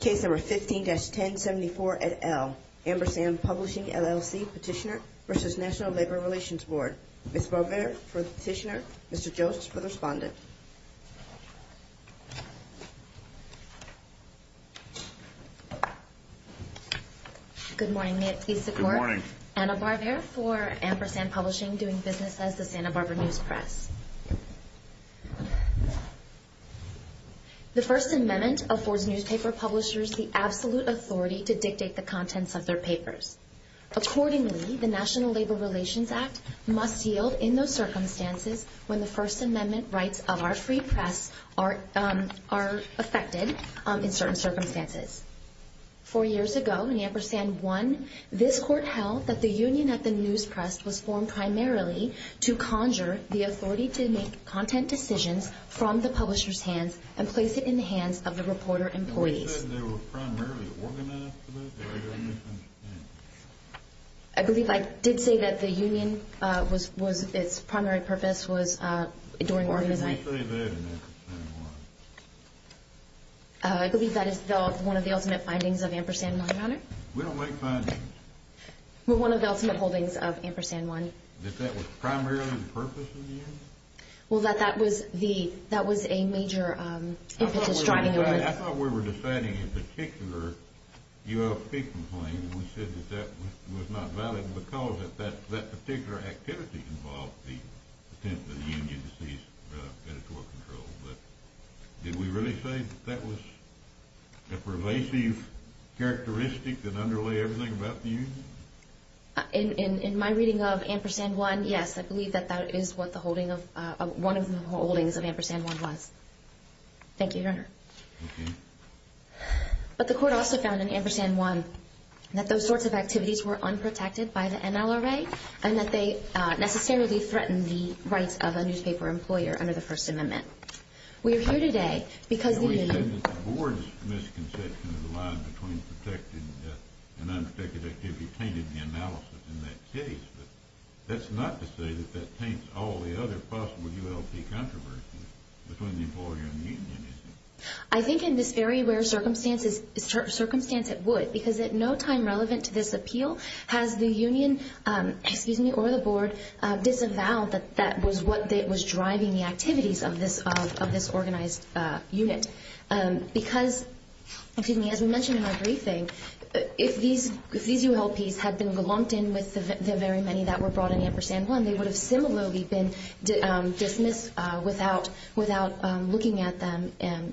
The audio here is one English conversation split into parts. Case number 15-1074-L Ampersand Publishing, LLC Petitioner v. National Labor Relations Board Ms. Barver for the petitioner, Mr. Jost for the respondent Good morning, may it please the court Good morning Anna Barver for Ampersand Publishing, doing business as the Santa Barbara News Press The First Amendment affords newspaper publishers the absolute authority to dictate the contents of their papers. Accordingly, the National Labor Relations Act must yield in those circumstances when the First Amendment rights of our free press are affected in certain circumstances. Four years ago, in Ampersand 1, this court held that the union at the news press was formed primarily to conjure the authority to make content decisions from the publisher's hands and place it in the hands of the reporter employees. I believe I did say that the union was its primary purpose was during Ampersand 1. I believe that is one of the ultimate findings of Ampersand 1, Your Honor. We don't make findings. Well, one of the ultimate holdings of Ampersand 1. That that was primarily the purpose of the union? Well, that that was a major impetus driving the union. I thought we were deciding a particular ULP complaint and we said that that was not valid because that particular activity involved the intent of the union to seize editorial control. Did we really say that that was a pervasive characteristic that underlay everything about the union? In my reading of Ampersand 1, yes. I believe that that is what the holding of one of the holdings of Ampersand 1 was. Thank you, Your Honor. Thank you. But the court also found in Ampersand 1 that those sorts of activities were unprotected by the NLRA and that they necessarily threatened the rights of a newspaper employer under the First Amendment. We are here today because the union… The board's misconception of the line between protected and unprotected activity tainted the analysis in that case, but that's not to say that that taints all the other possible ULP controversies between the employer and the union, is it? I think in this very rare circumstance it would because at no time relevant to this appeal has the union or the board disavowed that that was what was driving the activities of this organized unit. Because, excuse me, as we mentioned in our briefing, if these ULPs had been lumped in with the very many that were brought in Ampersand 1, they would have similarly been dismissed without looking at them in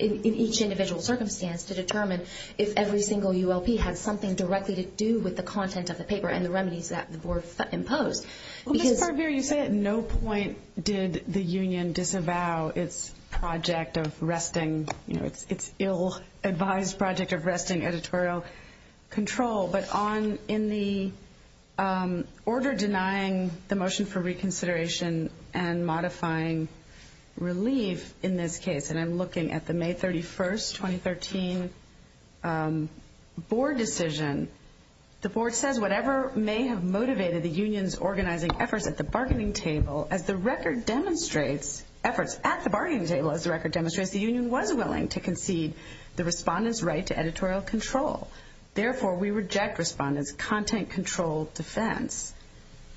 each individual circumstance to determine if every single ULP had something directly to do with the content of the paper and the remedies that the board imposed. Ms. Parbir, you say at no point did the union disavow its project of arresting, its ill-advised project of arresting editorial control, but in the order denying the motion for reconsideration and modifying relief in this case, and I'm looking at the May 31st, 2013 board decision, the board says whatever may have motivated the union's organizing efforts at the bargaining table as the record demonstrates, efforts at the bargaining table as the record demonstrates, the union was willing to concede the respondent's right to editorial control. Therefore, we reject respondent's content control defense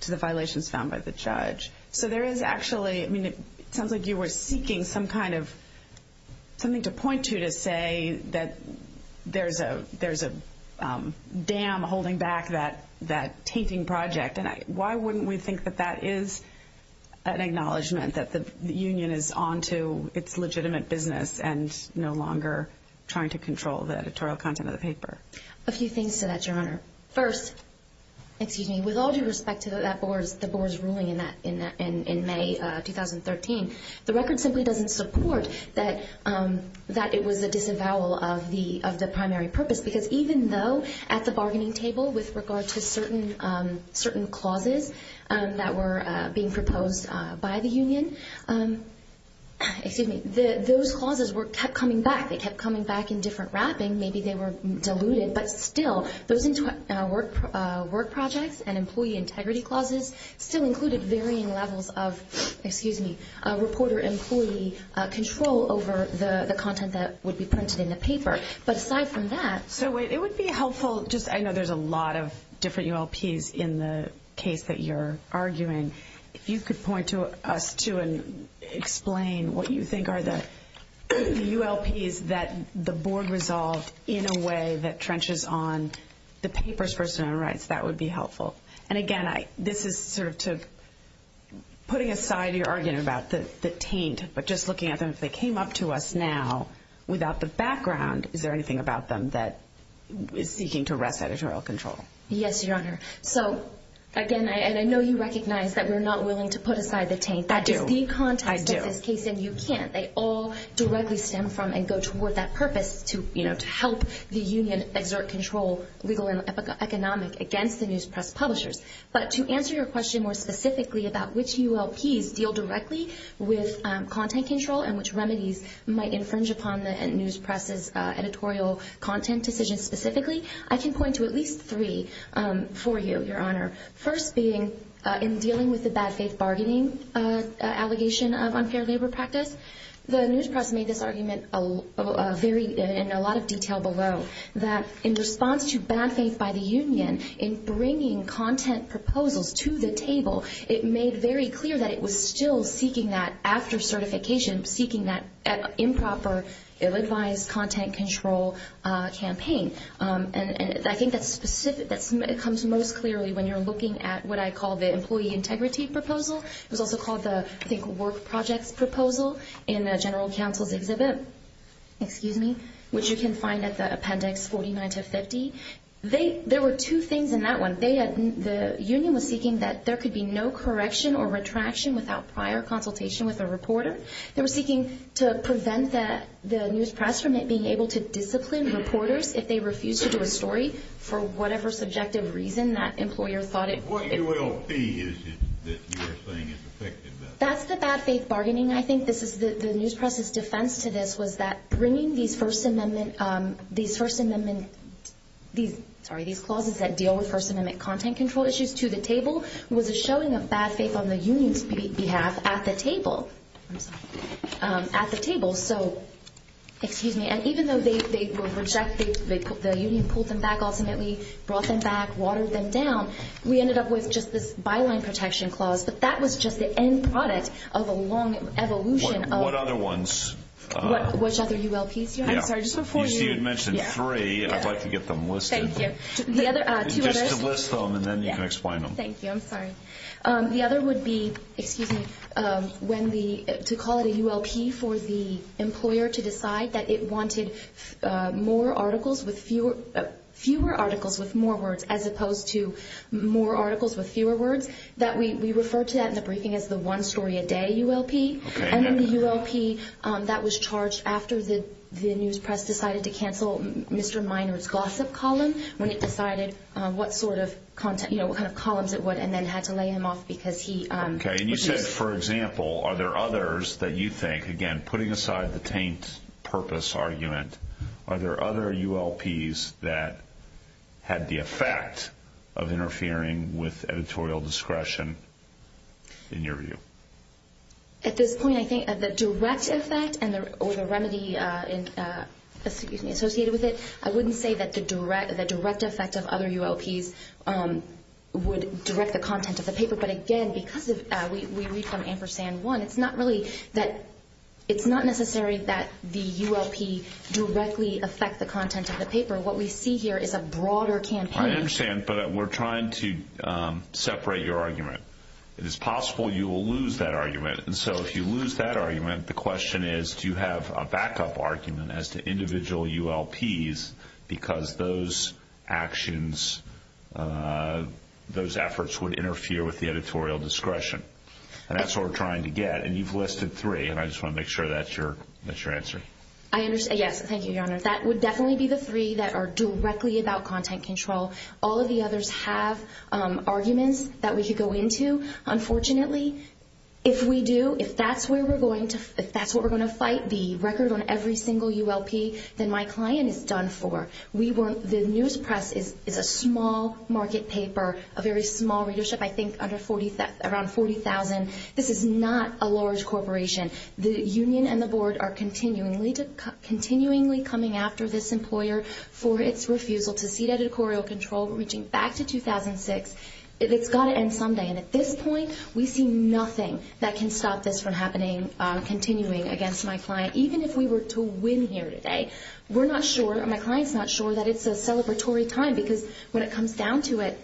to the violations found by the judge. So there is actually, I mean, it sounds like you were seeking some kind of, something to point to to say that there's a dam holding back that tainting project. And why wouldn't we think that that is an acknowledgment that the union is on to its legitimate business and no longer trying to control the editorial content of the paper? A few things to that, Your Honor. First, excuse me, with all due respect to that board's ruling in May 2013, the record simply doesn't support that it was a disavowal of the primary purpose because even though at the bargaining table with regard to certain clauses that were being proposed by the union, excuse me, those clauses kept coming back. They kept coming back in different wrapping. Maybe they were diluted, but still those work projects and employee integrity clauses still included varying levels of, excuse me, reporter employee control over the content that would be printed in the paper. But aside from that. So it would be helpful just, I know there's a lot of different ULPs in the case that you're arguing. If you could point to us too and explain what you think are the ULPs that the board resolved in a way that trenches on the papers versus their own rights, that would be helpful. And again, this is sort of putting aside your argument about the taint, but just looking at them, if they came up to us now without the background, is there anything about them that is seeking to arrest editorial control? Yes, Your Honor. So again, and I know you recognize that we're not willing to put aside the taint. I do. That is the context of this case and you can't. They all directly stem from and go toward that purpose to help the union exert control, legal and economic, against the news press publishers. But to answer your question more specifically about which ULPs deal directly with content control and which remedies might infringe upon the news press's editorial content decisions specifically, I can point to at least three for you, Your Honor. First being in dealing with the bad faith bargaining allegation of unfair labor practice, the news press made this argument in a lot of detail below that in response to bad faith by the union, in bringing content proposals to the table, it made very clear that it was still seeking that after certification, seeking that improper, ill-advised content control campaign. And I think that comes most clearly when you're looking at what I call the employee integrity proposal. It was also called the, I think, work projects proposal in the general counsel's exhibit, excuse me, which you can find at the appendix 49 to 50. There were two things in that one. The union was seeking that there could be no correction or retraction without prior consultation with a reporter. They were seeking to prevent the news press from it being able to discipline reporters if they refused to do a story for whatever subjective reason that employer thought it would. What ULP is it that you're saying is effective? That's the bad faith bargaining. I think this is the news press's defense to this was that bringing these First Amendment, these First Amendment, these, sorry, these clauses that deal with First Amendment content control issues to the table was a showing of bad faith on the union's behalf at the table, at the table. So, excuse me, and even though they were rejected, the union pulled them back ultimately, brought them back, watered them down, we ended up with just this byline protection clause. But that was just the end product of a long evolution of... What other ones? Which other ULPs? I'm sorry, just before you... You mentioned three. I'd like to get them listed. Thank you. Thank you. I'm sorry. The other would be, excuse me, when the, to call it a ULP for the employer to decide that it wanted more articles with fewer, fewer articles with more words as opposed to more articles with fewer words, that we referred to that in the briefing as the one story a day ULP. And then the ULP that was charged after the news press decided to cancel Mr. Minor's gossip column, when it decided what sort of content, you know, what kind of columns it would, and then had to lay him off because he... Okay, and you said, for example, are there others that you think, again, putting aside the taint purpose argument, are there other ULPs that had the effect of interfering with editorial discretion in your view? At this point, I think the direct effect or the remedy associated with it, I wouldn't say that the direct effect of other ULPs would direct the content of the paper. But again, because we read from ampersand one, it's not really that... It's not necessary that the ULP directly affect the content of the paper. What we see here is a broader campaign. I understand, but we're trying to separate your argument. It is possible you will lose that argument. And so if you lose that argument, the question is, do you have a backup argument as to individual ULPs because those actions, those efforts would interfere with the editorial discretion? And that's what we're trying to get. And you've listed three, and I just want to make sure that's your answer. I understand. Yes, thank you, Your Honor. That would definitely be the three that are directly about content control. All of the others have arguments that we could go into. Unfortunately, if we do, if that's what we're going to fight the record on every single ULP, then my client is done for. The news press is a small market paper, a very small readership, I think around 40,000. This is not a large corporation. The union and the board are continually coming after this employer for its refusal to cede editorial control. We're reaching back to 2006. It's got to end someday. And at this point, we see nothing that can stop this from happening, continuing against my client. Even if we were to win here today, we're not sure, my client's not sure that it's a celebratory time because when it comes down to it,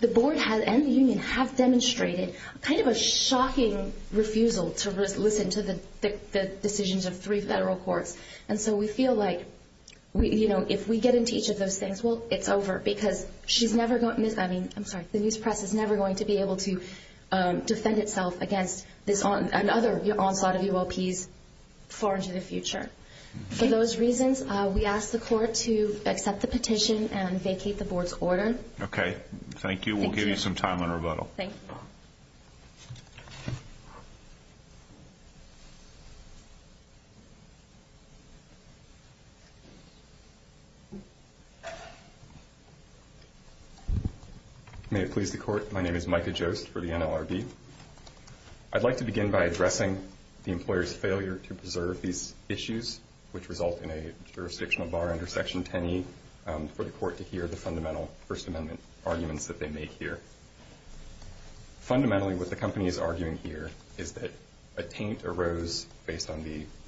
the board and the union have demonstrated kind of a shocking refusal to listen to this. The decisions of three federal courts. And so we feel like if we get into each of those things, well, it's over because she's never going to, I mean, I'm sorry, the news press is never going to be able to defend itself against another onslaught of ULPs far into the future. For those reasons, we ask the court to accept the petition and vacate the board's order. Okay, thank you. We'll give you some time on rebuttal. Thank you. May it please the court. My name is Micah Jost for the NLRB. I'd like to begin by addressing the employer's failure to preserve these issues, which result in a jurisdictional bar under Section 10E for the court to hear the fundamental First Amendment arguments that they make here. Fundamentally, what the company is arguing here is that a taint arose based on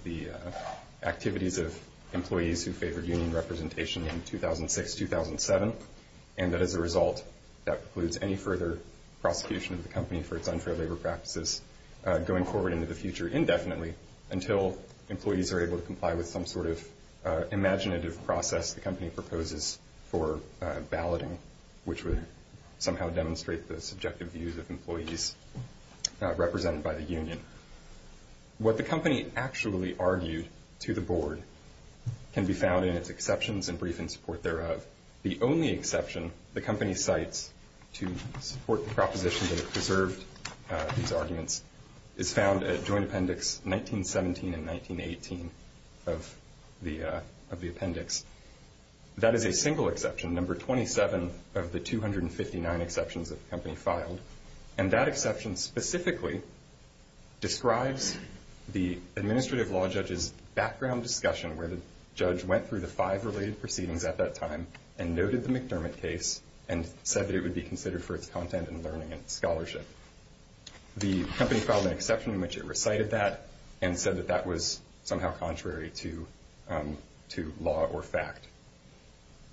the activities of employees who favored union representation in 2006-2007, and that as a result that precludes any further prosecution of the company for its unfair labor practices going forward into the future indefinitely until employees are able to comply with some sort of imaginative process the company proposes for balloting, which would somehow demonstrate the subjective views of employees represented by the union. What the company actually argued to the board can be found in its exceptions and brief in support thereof. The only exception the company cites to support the proposition that it preserved these arguments is found at Joint Appendix 1917 and 1918 of the appendix. That is a single exception, number 27 of the 259 exceptions that the company filed, and that exception specifically describes the administrative law judge's background discussion where the judge went through the five related proceedings at that time and noted the McDermott case and said that it would be considered for its content and learning and scholarship. The company filed an exception in which it recited that and said that that was somehow contrary to law or fact.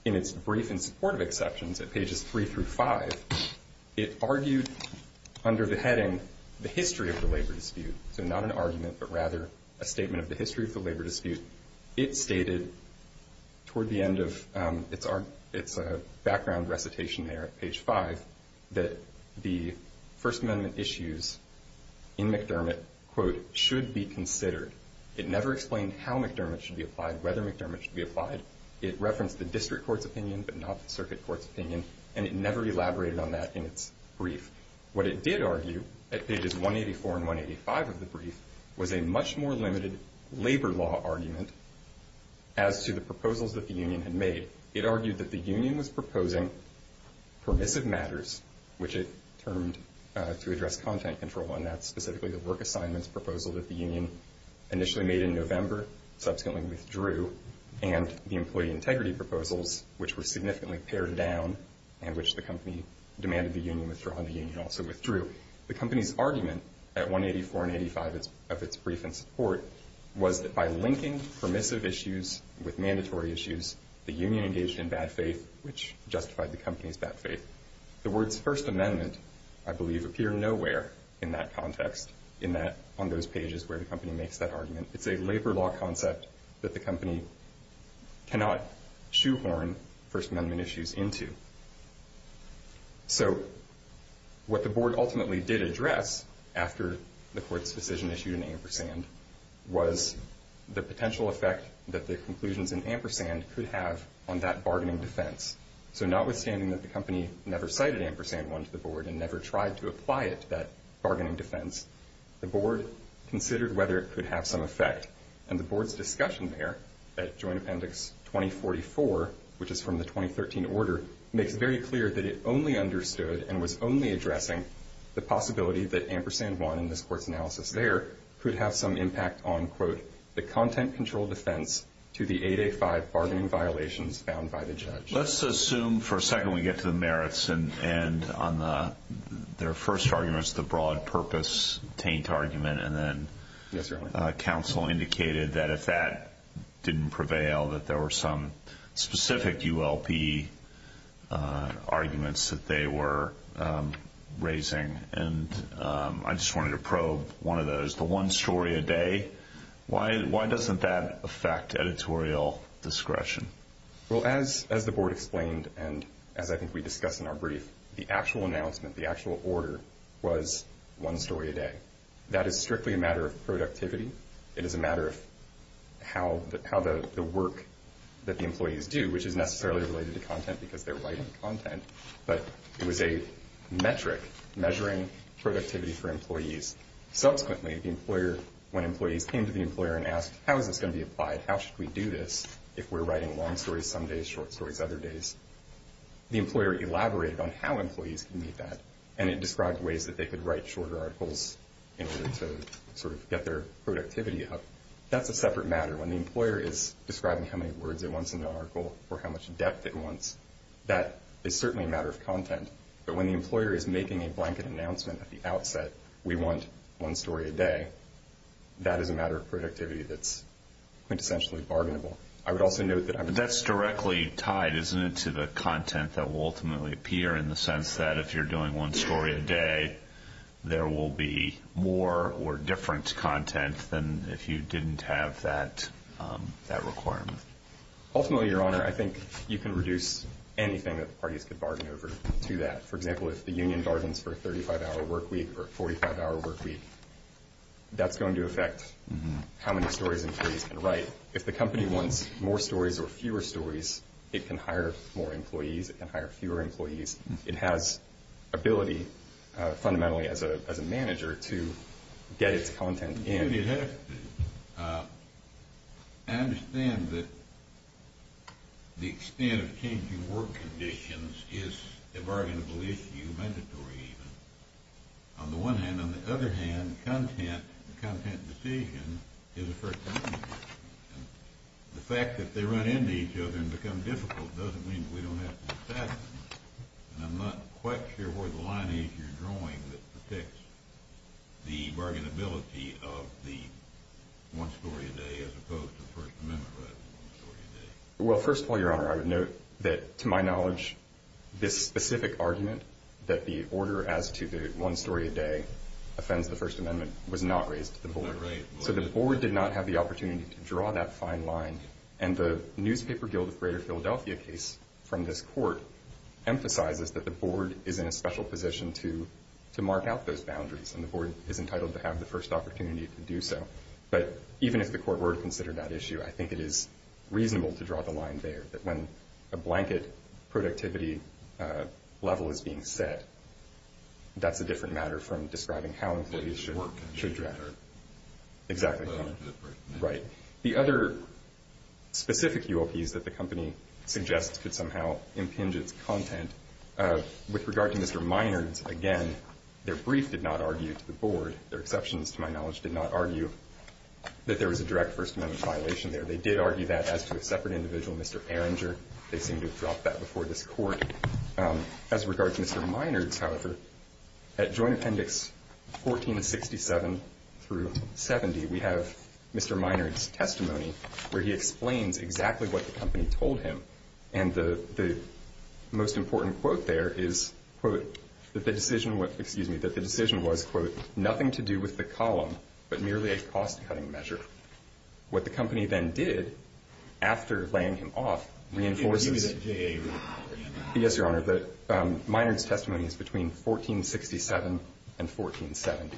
In its brief in support of exceptions at pages three through five, it argued under the heading the history of the labor dispute, so not an argument but rather a statement of the history of the labor dispute. It stated toward the end of its background recitation there at page five that the First Amendment issues in McDermott, quote, should be considered. It never explained how McDermott should be applied, whether McDermott should be applied. It referenced the district court's opinion but not the circuit court's opinion, and it never elaborated on that in its brief. What it did argue at pages 184 and 185 of the brief was a much more limited labor law argument as to the proposals that the union had made. It argued that the union was proposing permissive matters, which it termed to address content control, and that's specifically the work assignments proposal that the union initially made in November, subsequently withdrew, and the employee integrity proposals, which were significantly pared down and which the company demanded the union withdraw and the union also withdrew. The company's argument at 184 and 185 of its brief in support was that by linking permissive issues with mandatory issues, the union engaged in bad faith, which justified the company's bad faith. The words First Amendment, I believe, appear nowhere in that context on those pages where the company makes that argument. It's a labor law concept that the company cannot shoehorn First Amendment issues into. So what the board ultimately did address after the court's decision issued an ampersand was the potential effect that the conclusions in ampersand could have on that bargaining defense. So notwithstanding that the company never cited ampersand 1 to the board and never tried to apply it to that bargaining defense, the board considered whether it could have some effect, and the board's discussion there at Joint Appendix 2044, which is from the 2013 order, makes it very clear that it only understood and was only addressing the possibility that ampersand 1 in this court's analysis there could have some impact on, quote, the content control defense to the 8A5 bargaining violations found by the judge. Let's assume for a second we get to the merits, and on their first arguments, the broad purpose taint argument, and then counsel indicated that if that didn't prevail, that there were some specific ULP arguments that they were raising. And I just wanted to probe one of those. The one story a day, why doesn't that affect editorial discretion? Well, as the board explained and as I think we discussed in our brief, the actual announcement, the actual order was one story a day. That is strictly a matter of productivity. It is a matter of how the work that the employees do, which is necessarily related to content because they're writing content, but it was a metric measuring productivity for employees. Subsequently, when employees came to the employer and asked, how is this going to be applied? How should we do this if we're writing long stories some days, short stories other days? The employer elaborated on how employees can meet that, and it described ways that they could write shorter articles in order to sort of get their productivity up. That's a separate matter. When the employer is describing how many words it wants in an article or how much depth it wants, that is certainly a matter of content. But when the employer is making a blanket announcement at the outset, we want one story a day, that is a matter of productivity that's quintessentially bargainable. That's directly tied, isn't it, to the content that will ultimately appear, in the sense that if you're doing one story a day, there will be more or different content than if you didn't have that requirement. Ultimately, Your Honor, I think you can reduce anything that the parties could bargain over to that. For example, if the union bargains for a 35-hour work week or a 45-hour work week, that's going to affect how many stories employees can write. If the company wants more stories or fewer stories, it can hire more employees. It can hire fewer employees. It has ability, fundamentally, as a manager to get its content in. I think it has to. I understand that the extent of changing work conditions is a bargainable issue, mandatory even. On the one hand. On the other hand, content, the content decision, is a first. The fact that they run into each other and become difficult doesn't mean that we don't have to satisfy them. I'm not quite sure where the line is you're drawing that protects the bargainability of the one story a day as opposed to the First Amendment right to one story a day. Well, first of all, Your Honor, I would note that, to my knowledge, this specific argument that the order as to the one story a day offends the First Amendment was not raised to the board. It was not raised. So the board did not have the opportunity to draw that fine line. And the Newspaper Guild of Greater Philadelphia case from this court emphasizes that the board is in a special position to mark out those boundaries, and the board is entitled to have the first opportunity to do so. But even if the court were to consider that issue, I think it is reasonable to draw the line there, that when a blanket productivity level is being set, that's a different matter from describing how employees should work. Exactly. Right. The other specific UOPs that the company suggests could somehow impinge its content. With regard to Mr. Minard's, again, their brief did not argue to the board. Their exceptions, to my knowledge, did not argue that there was a direct First Amendment violation there. They did argue that as to a separate individual, Mr. Erringer. They seem to have dropped that before this court. As regards to Mr. Minard's, however, at Joint Appendix 1467 through 70, we have Mr. Minard's testimony where he explains exactly what the company told him. And the most important quote there is, quote, that the decision was, quote, nothing to do with the column, but merely a cost-cutting measure. What the company then did, after laying him off, reinforces. Is it JA? Yes, Your Honor. Minard's testimony is between 1467 and 1470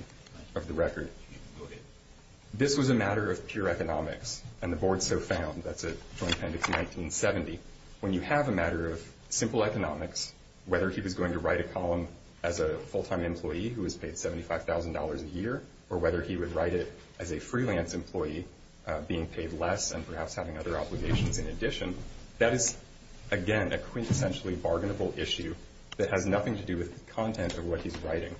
of the record. Go ahead. This was a matter of pure economics, and the board so found. That's at Joint Appendix 1970. When you have a matter of simple economics, whether he was going to write a column as a full-time employee who was paid $75,000 a year, or whether he would write it as a freelance employee being paid less and perhaps having other obligations in addition, that is, again, a quintessentially bargainable issue that has nothing to do with the content of what he's writing.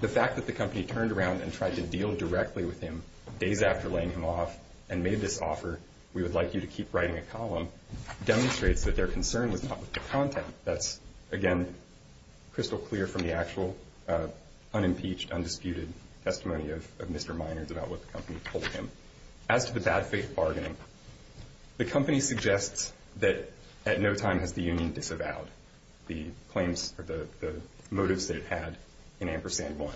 The fact that the company turned around and tried to deal directly with him days after laying him off and made this offer, we would like you to keep writing a column, demonstrates that their concern was not with the content. That's, again, crystal clear from the actual unimpeached, undisputed testimony of Mr. Minard's about what the company told him. As to the bad faith bargaining, the company suggests that at no time has the union disavowed the claims or the motives that it had in Ampersand 1.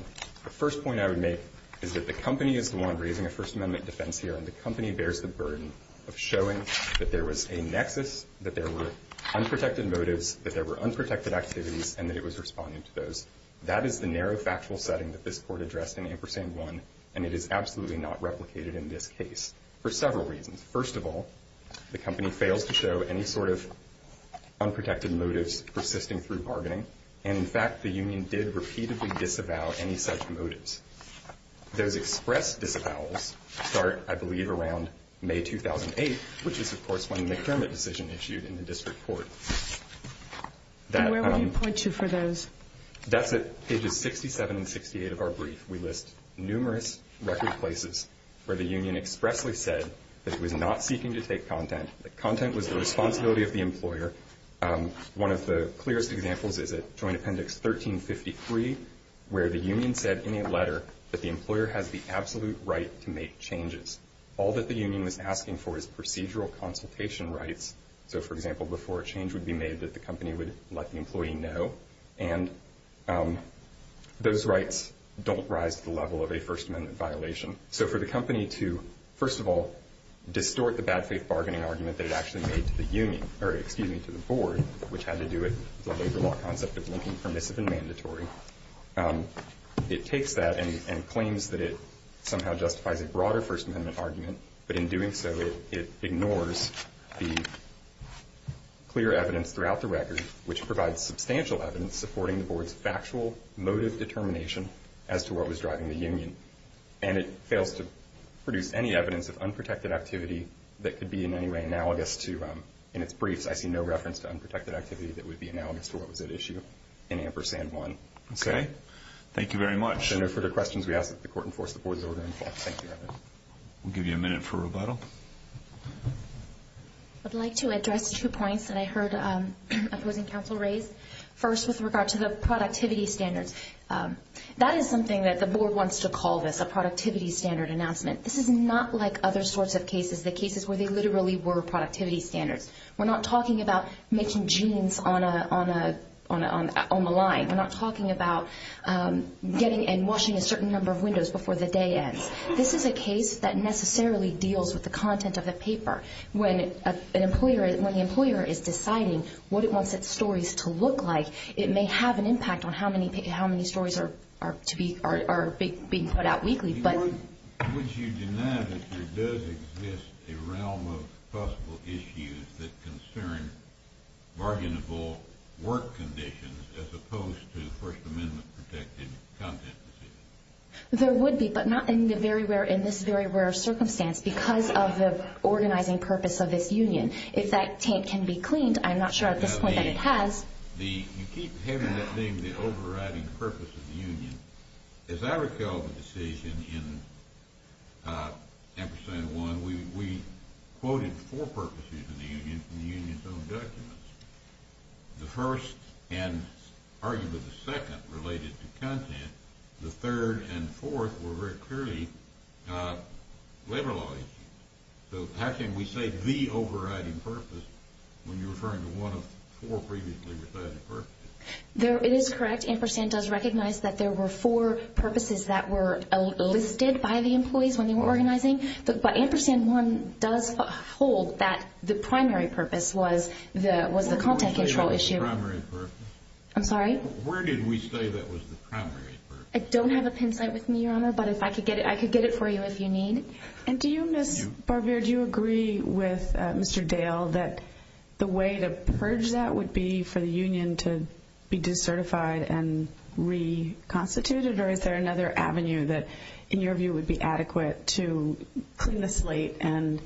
The first point I would make is that the company is the one raising a First Amendment defense here, and the company bears the burden of showing that there was a nexus, that there were unprotected motives, that there were unprotected activities, and that it was responding to those. That is the narrow factual setting that this Court addressed in Ampersand 1, and it is absolutely not replicated in this case for several reasons. First of all, the company fails to show any sort of unprotected motives persisting through bargaining, and, in fact, the union did repeatedly disavow any such motives. Those express disavowals start, I believe, around May 2008, which is, of course, when the McDermott decision issued in the district court. Where would you point to for those? That's at pages 67 and 68 of our brief. We list numerous record places where the union expressly said that it was not seeking to take content, that content was the responsibility of the employer. One of the clearest examples is at Joint Appendix 1353, where the union said in a letter that the employer has the absolute right to make changes. All that the union is asking for is procedural consultation rights. So, for example, before a change would be made that the company would let the employee know, and those rights don't rise to the level of a First Amendment violation. So for the company to, first of all, distort the bad faith bargaining argument that it actually made to the union, or, excuse me, to the board, which had to do with the labor law concept of linking permissive and mandatory, it takes that and claims that it somehow justifies a broader First Amendment argument. But in doing so, it ignores the clear evidence throughout the record, which provides substantial evidence supporting the board's factual motive determination as to what was driving the union. And it fails to produce any evidence of unprotected activity that could be in any way analogous to I see no reference to unprotected activity that would be analogous to what was at issue in Ampersand 1. Okay. Thank you very much. If there are no further questions, we ask that the court enforce the board's order in full. Thank you. We'll give you a minute for rebuttal. I'd like to address two points that I heard opposing counsel raise. First, with regard to the productivity standards, that is something that the board wants to call this, a productivity standard announcement. This is not like other sorts of cases, the cases where they literally were productivity standards. We're not talking about making jeans on the line. We're not talking about getting and washing a certain number of windows before the day ends. This is a case that necessarily deals with the content of the paper. When the employer is deciding what it wants its stories to look like, it may have an impact on how many stories are being put out weekly. Would you deny that there does exist a realm of possible issues that concern bargainable work conditions as opposed to First Amendment-protected content decisions? There would be, but not in this very rare circumstance because of the organizing purpose of this union. If that tent can be cleaned, I'm not sure at this point that it has. You keep having that thing, the overriding purpose of the union. As I recall the decision in Ampersand 1, we quoted four purposes in the union from the union's own documents. The first and arguably the second related to content. The third and fourth were very clearly labor law issues. So how can we say the overriding purpose when you're referring to one of four previously recited purposes? It is correct. Ampersand does recognize that there were four purposes that were listed by the employees when they were organizing. But Ampersand 1 does hold that the primary purpose was the content control issue. Where did we say that was the primary purpose? I'm sorry? Where did we say that was the primary purpose? I don't have a pencil with me, Your Honor, but I could get it for you if you need. And do you, Ms. Barbier, do you agree with Mr. Dale that the way to purge that would be for the union to be decertified and reconstituted? Or is there another avenue that, in your view, would be adequate to clean the slate and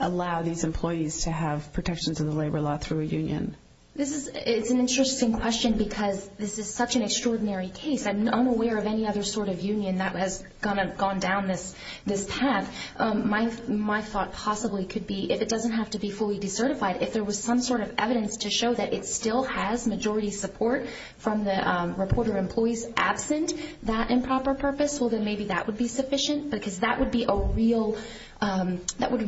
allow these employees to have protections of the labor law through a union? It's an interesting question because this is such an extraordinary case. I'm unaware of any other sort of union that has gone down this path. My thought possibly could be if it doesn't have to be fully decertified, if there was some sort of evidence to show that it still has majority support from the reporter employees absent that improper purpose, well, then maybe that would be sufficient because that would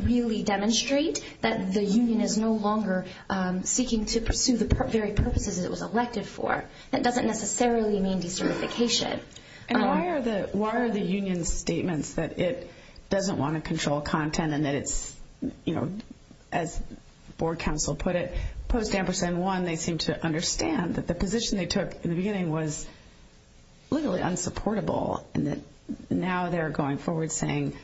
really demonstrate that the union is no longer seeking to pursue the very purposes it was elected for. That doesn't necessarily mean decertification. And why are the union's statements that it doesn't want to control content and that it's, you know, as board counsel put it, post-Ampersand 1, they seem to understand that the position they took in the beginning was literally unsupportable and that now they're going forward saying,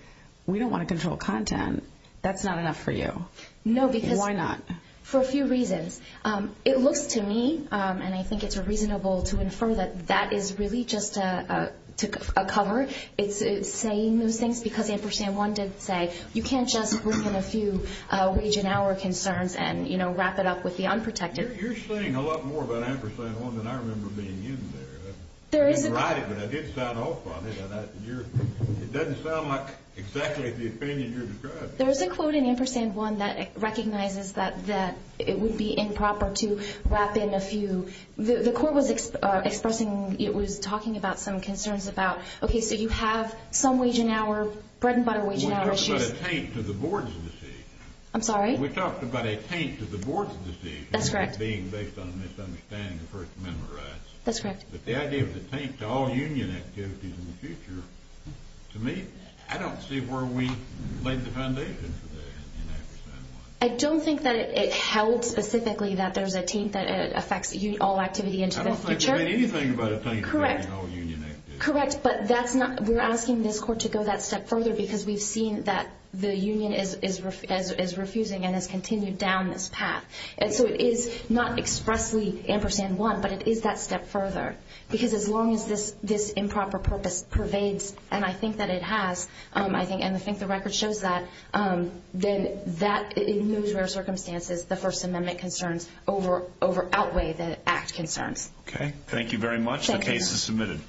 we don't want to control content. That's not enough for you. No, because... Why not? For a few reasons. It looks to me, and I think it's reasonable to infer that that is really just a cover. It's saying those things because Ampersand 1 did say you can't just bring in a few wage and hour concerns and, you know, wrap it up with the unprotected. You're saying a lot more about Ampersand 1 than I remember being in there. I didn't write it, but I did sound off on it. It doesn't sound like exactly the opinion you're describing. There is a quote in Ampersand 1 that recognizes that it would be improper to wrap in a few. The court was expressing, it was talking about some concerns about, okay, so you have some wage and hour, bread and butter wage and hour issues. We talked about a taint to the board's decision. I'm sorry? We talked about a taint to the board's decision. That's correct. Being based on a misunderstanding for it to memorize. That's correct. But the idea of the taint to all union activities in the future, to me, I don't see where we laid the foundation for that in Ampersand 1. I don't think that it held specifically that there's a taint that affects all activity into the future. I don't think we made anything about a taint affecting all union activities. Correct, but that's not, we're asking this court to go that step further because we've seen that the union is refusing and has continued down this path. And so it is not expressly Ampersand 1, but it is that step further because as long as this improper purpose pervades, and I think that it has, and I think the record shows that, then that in those rare circumstances, the First Amendment concerns outweigh the Act concerns. Okay, thank you very much. Thank you. The case is submitted.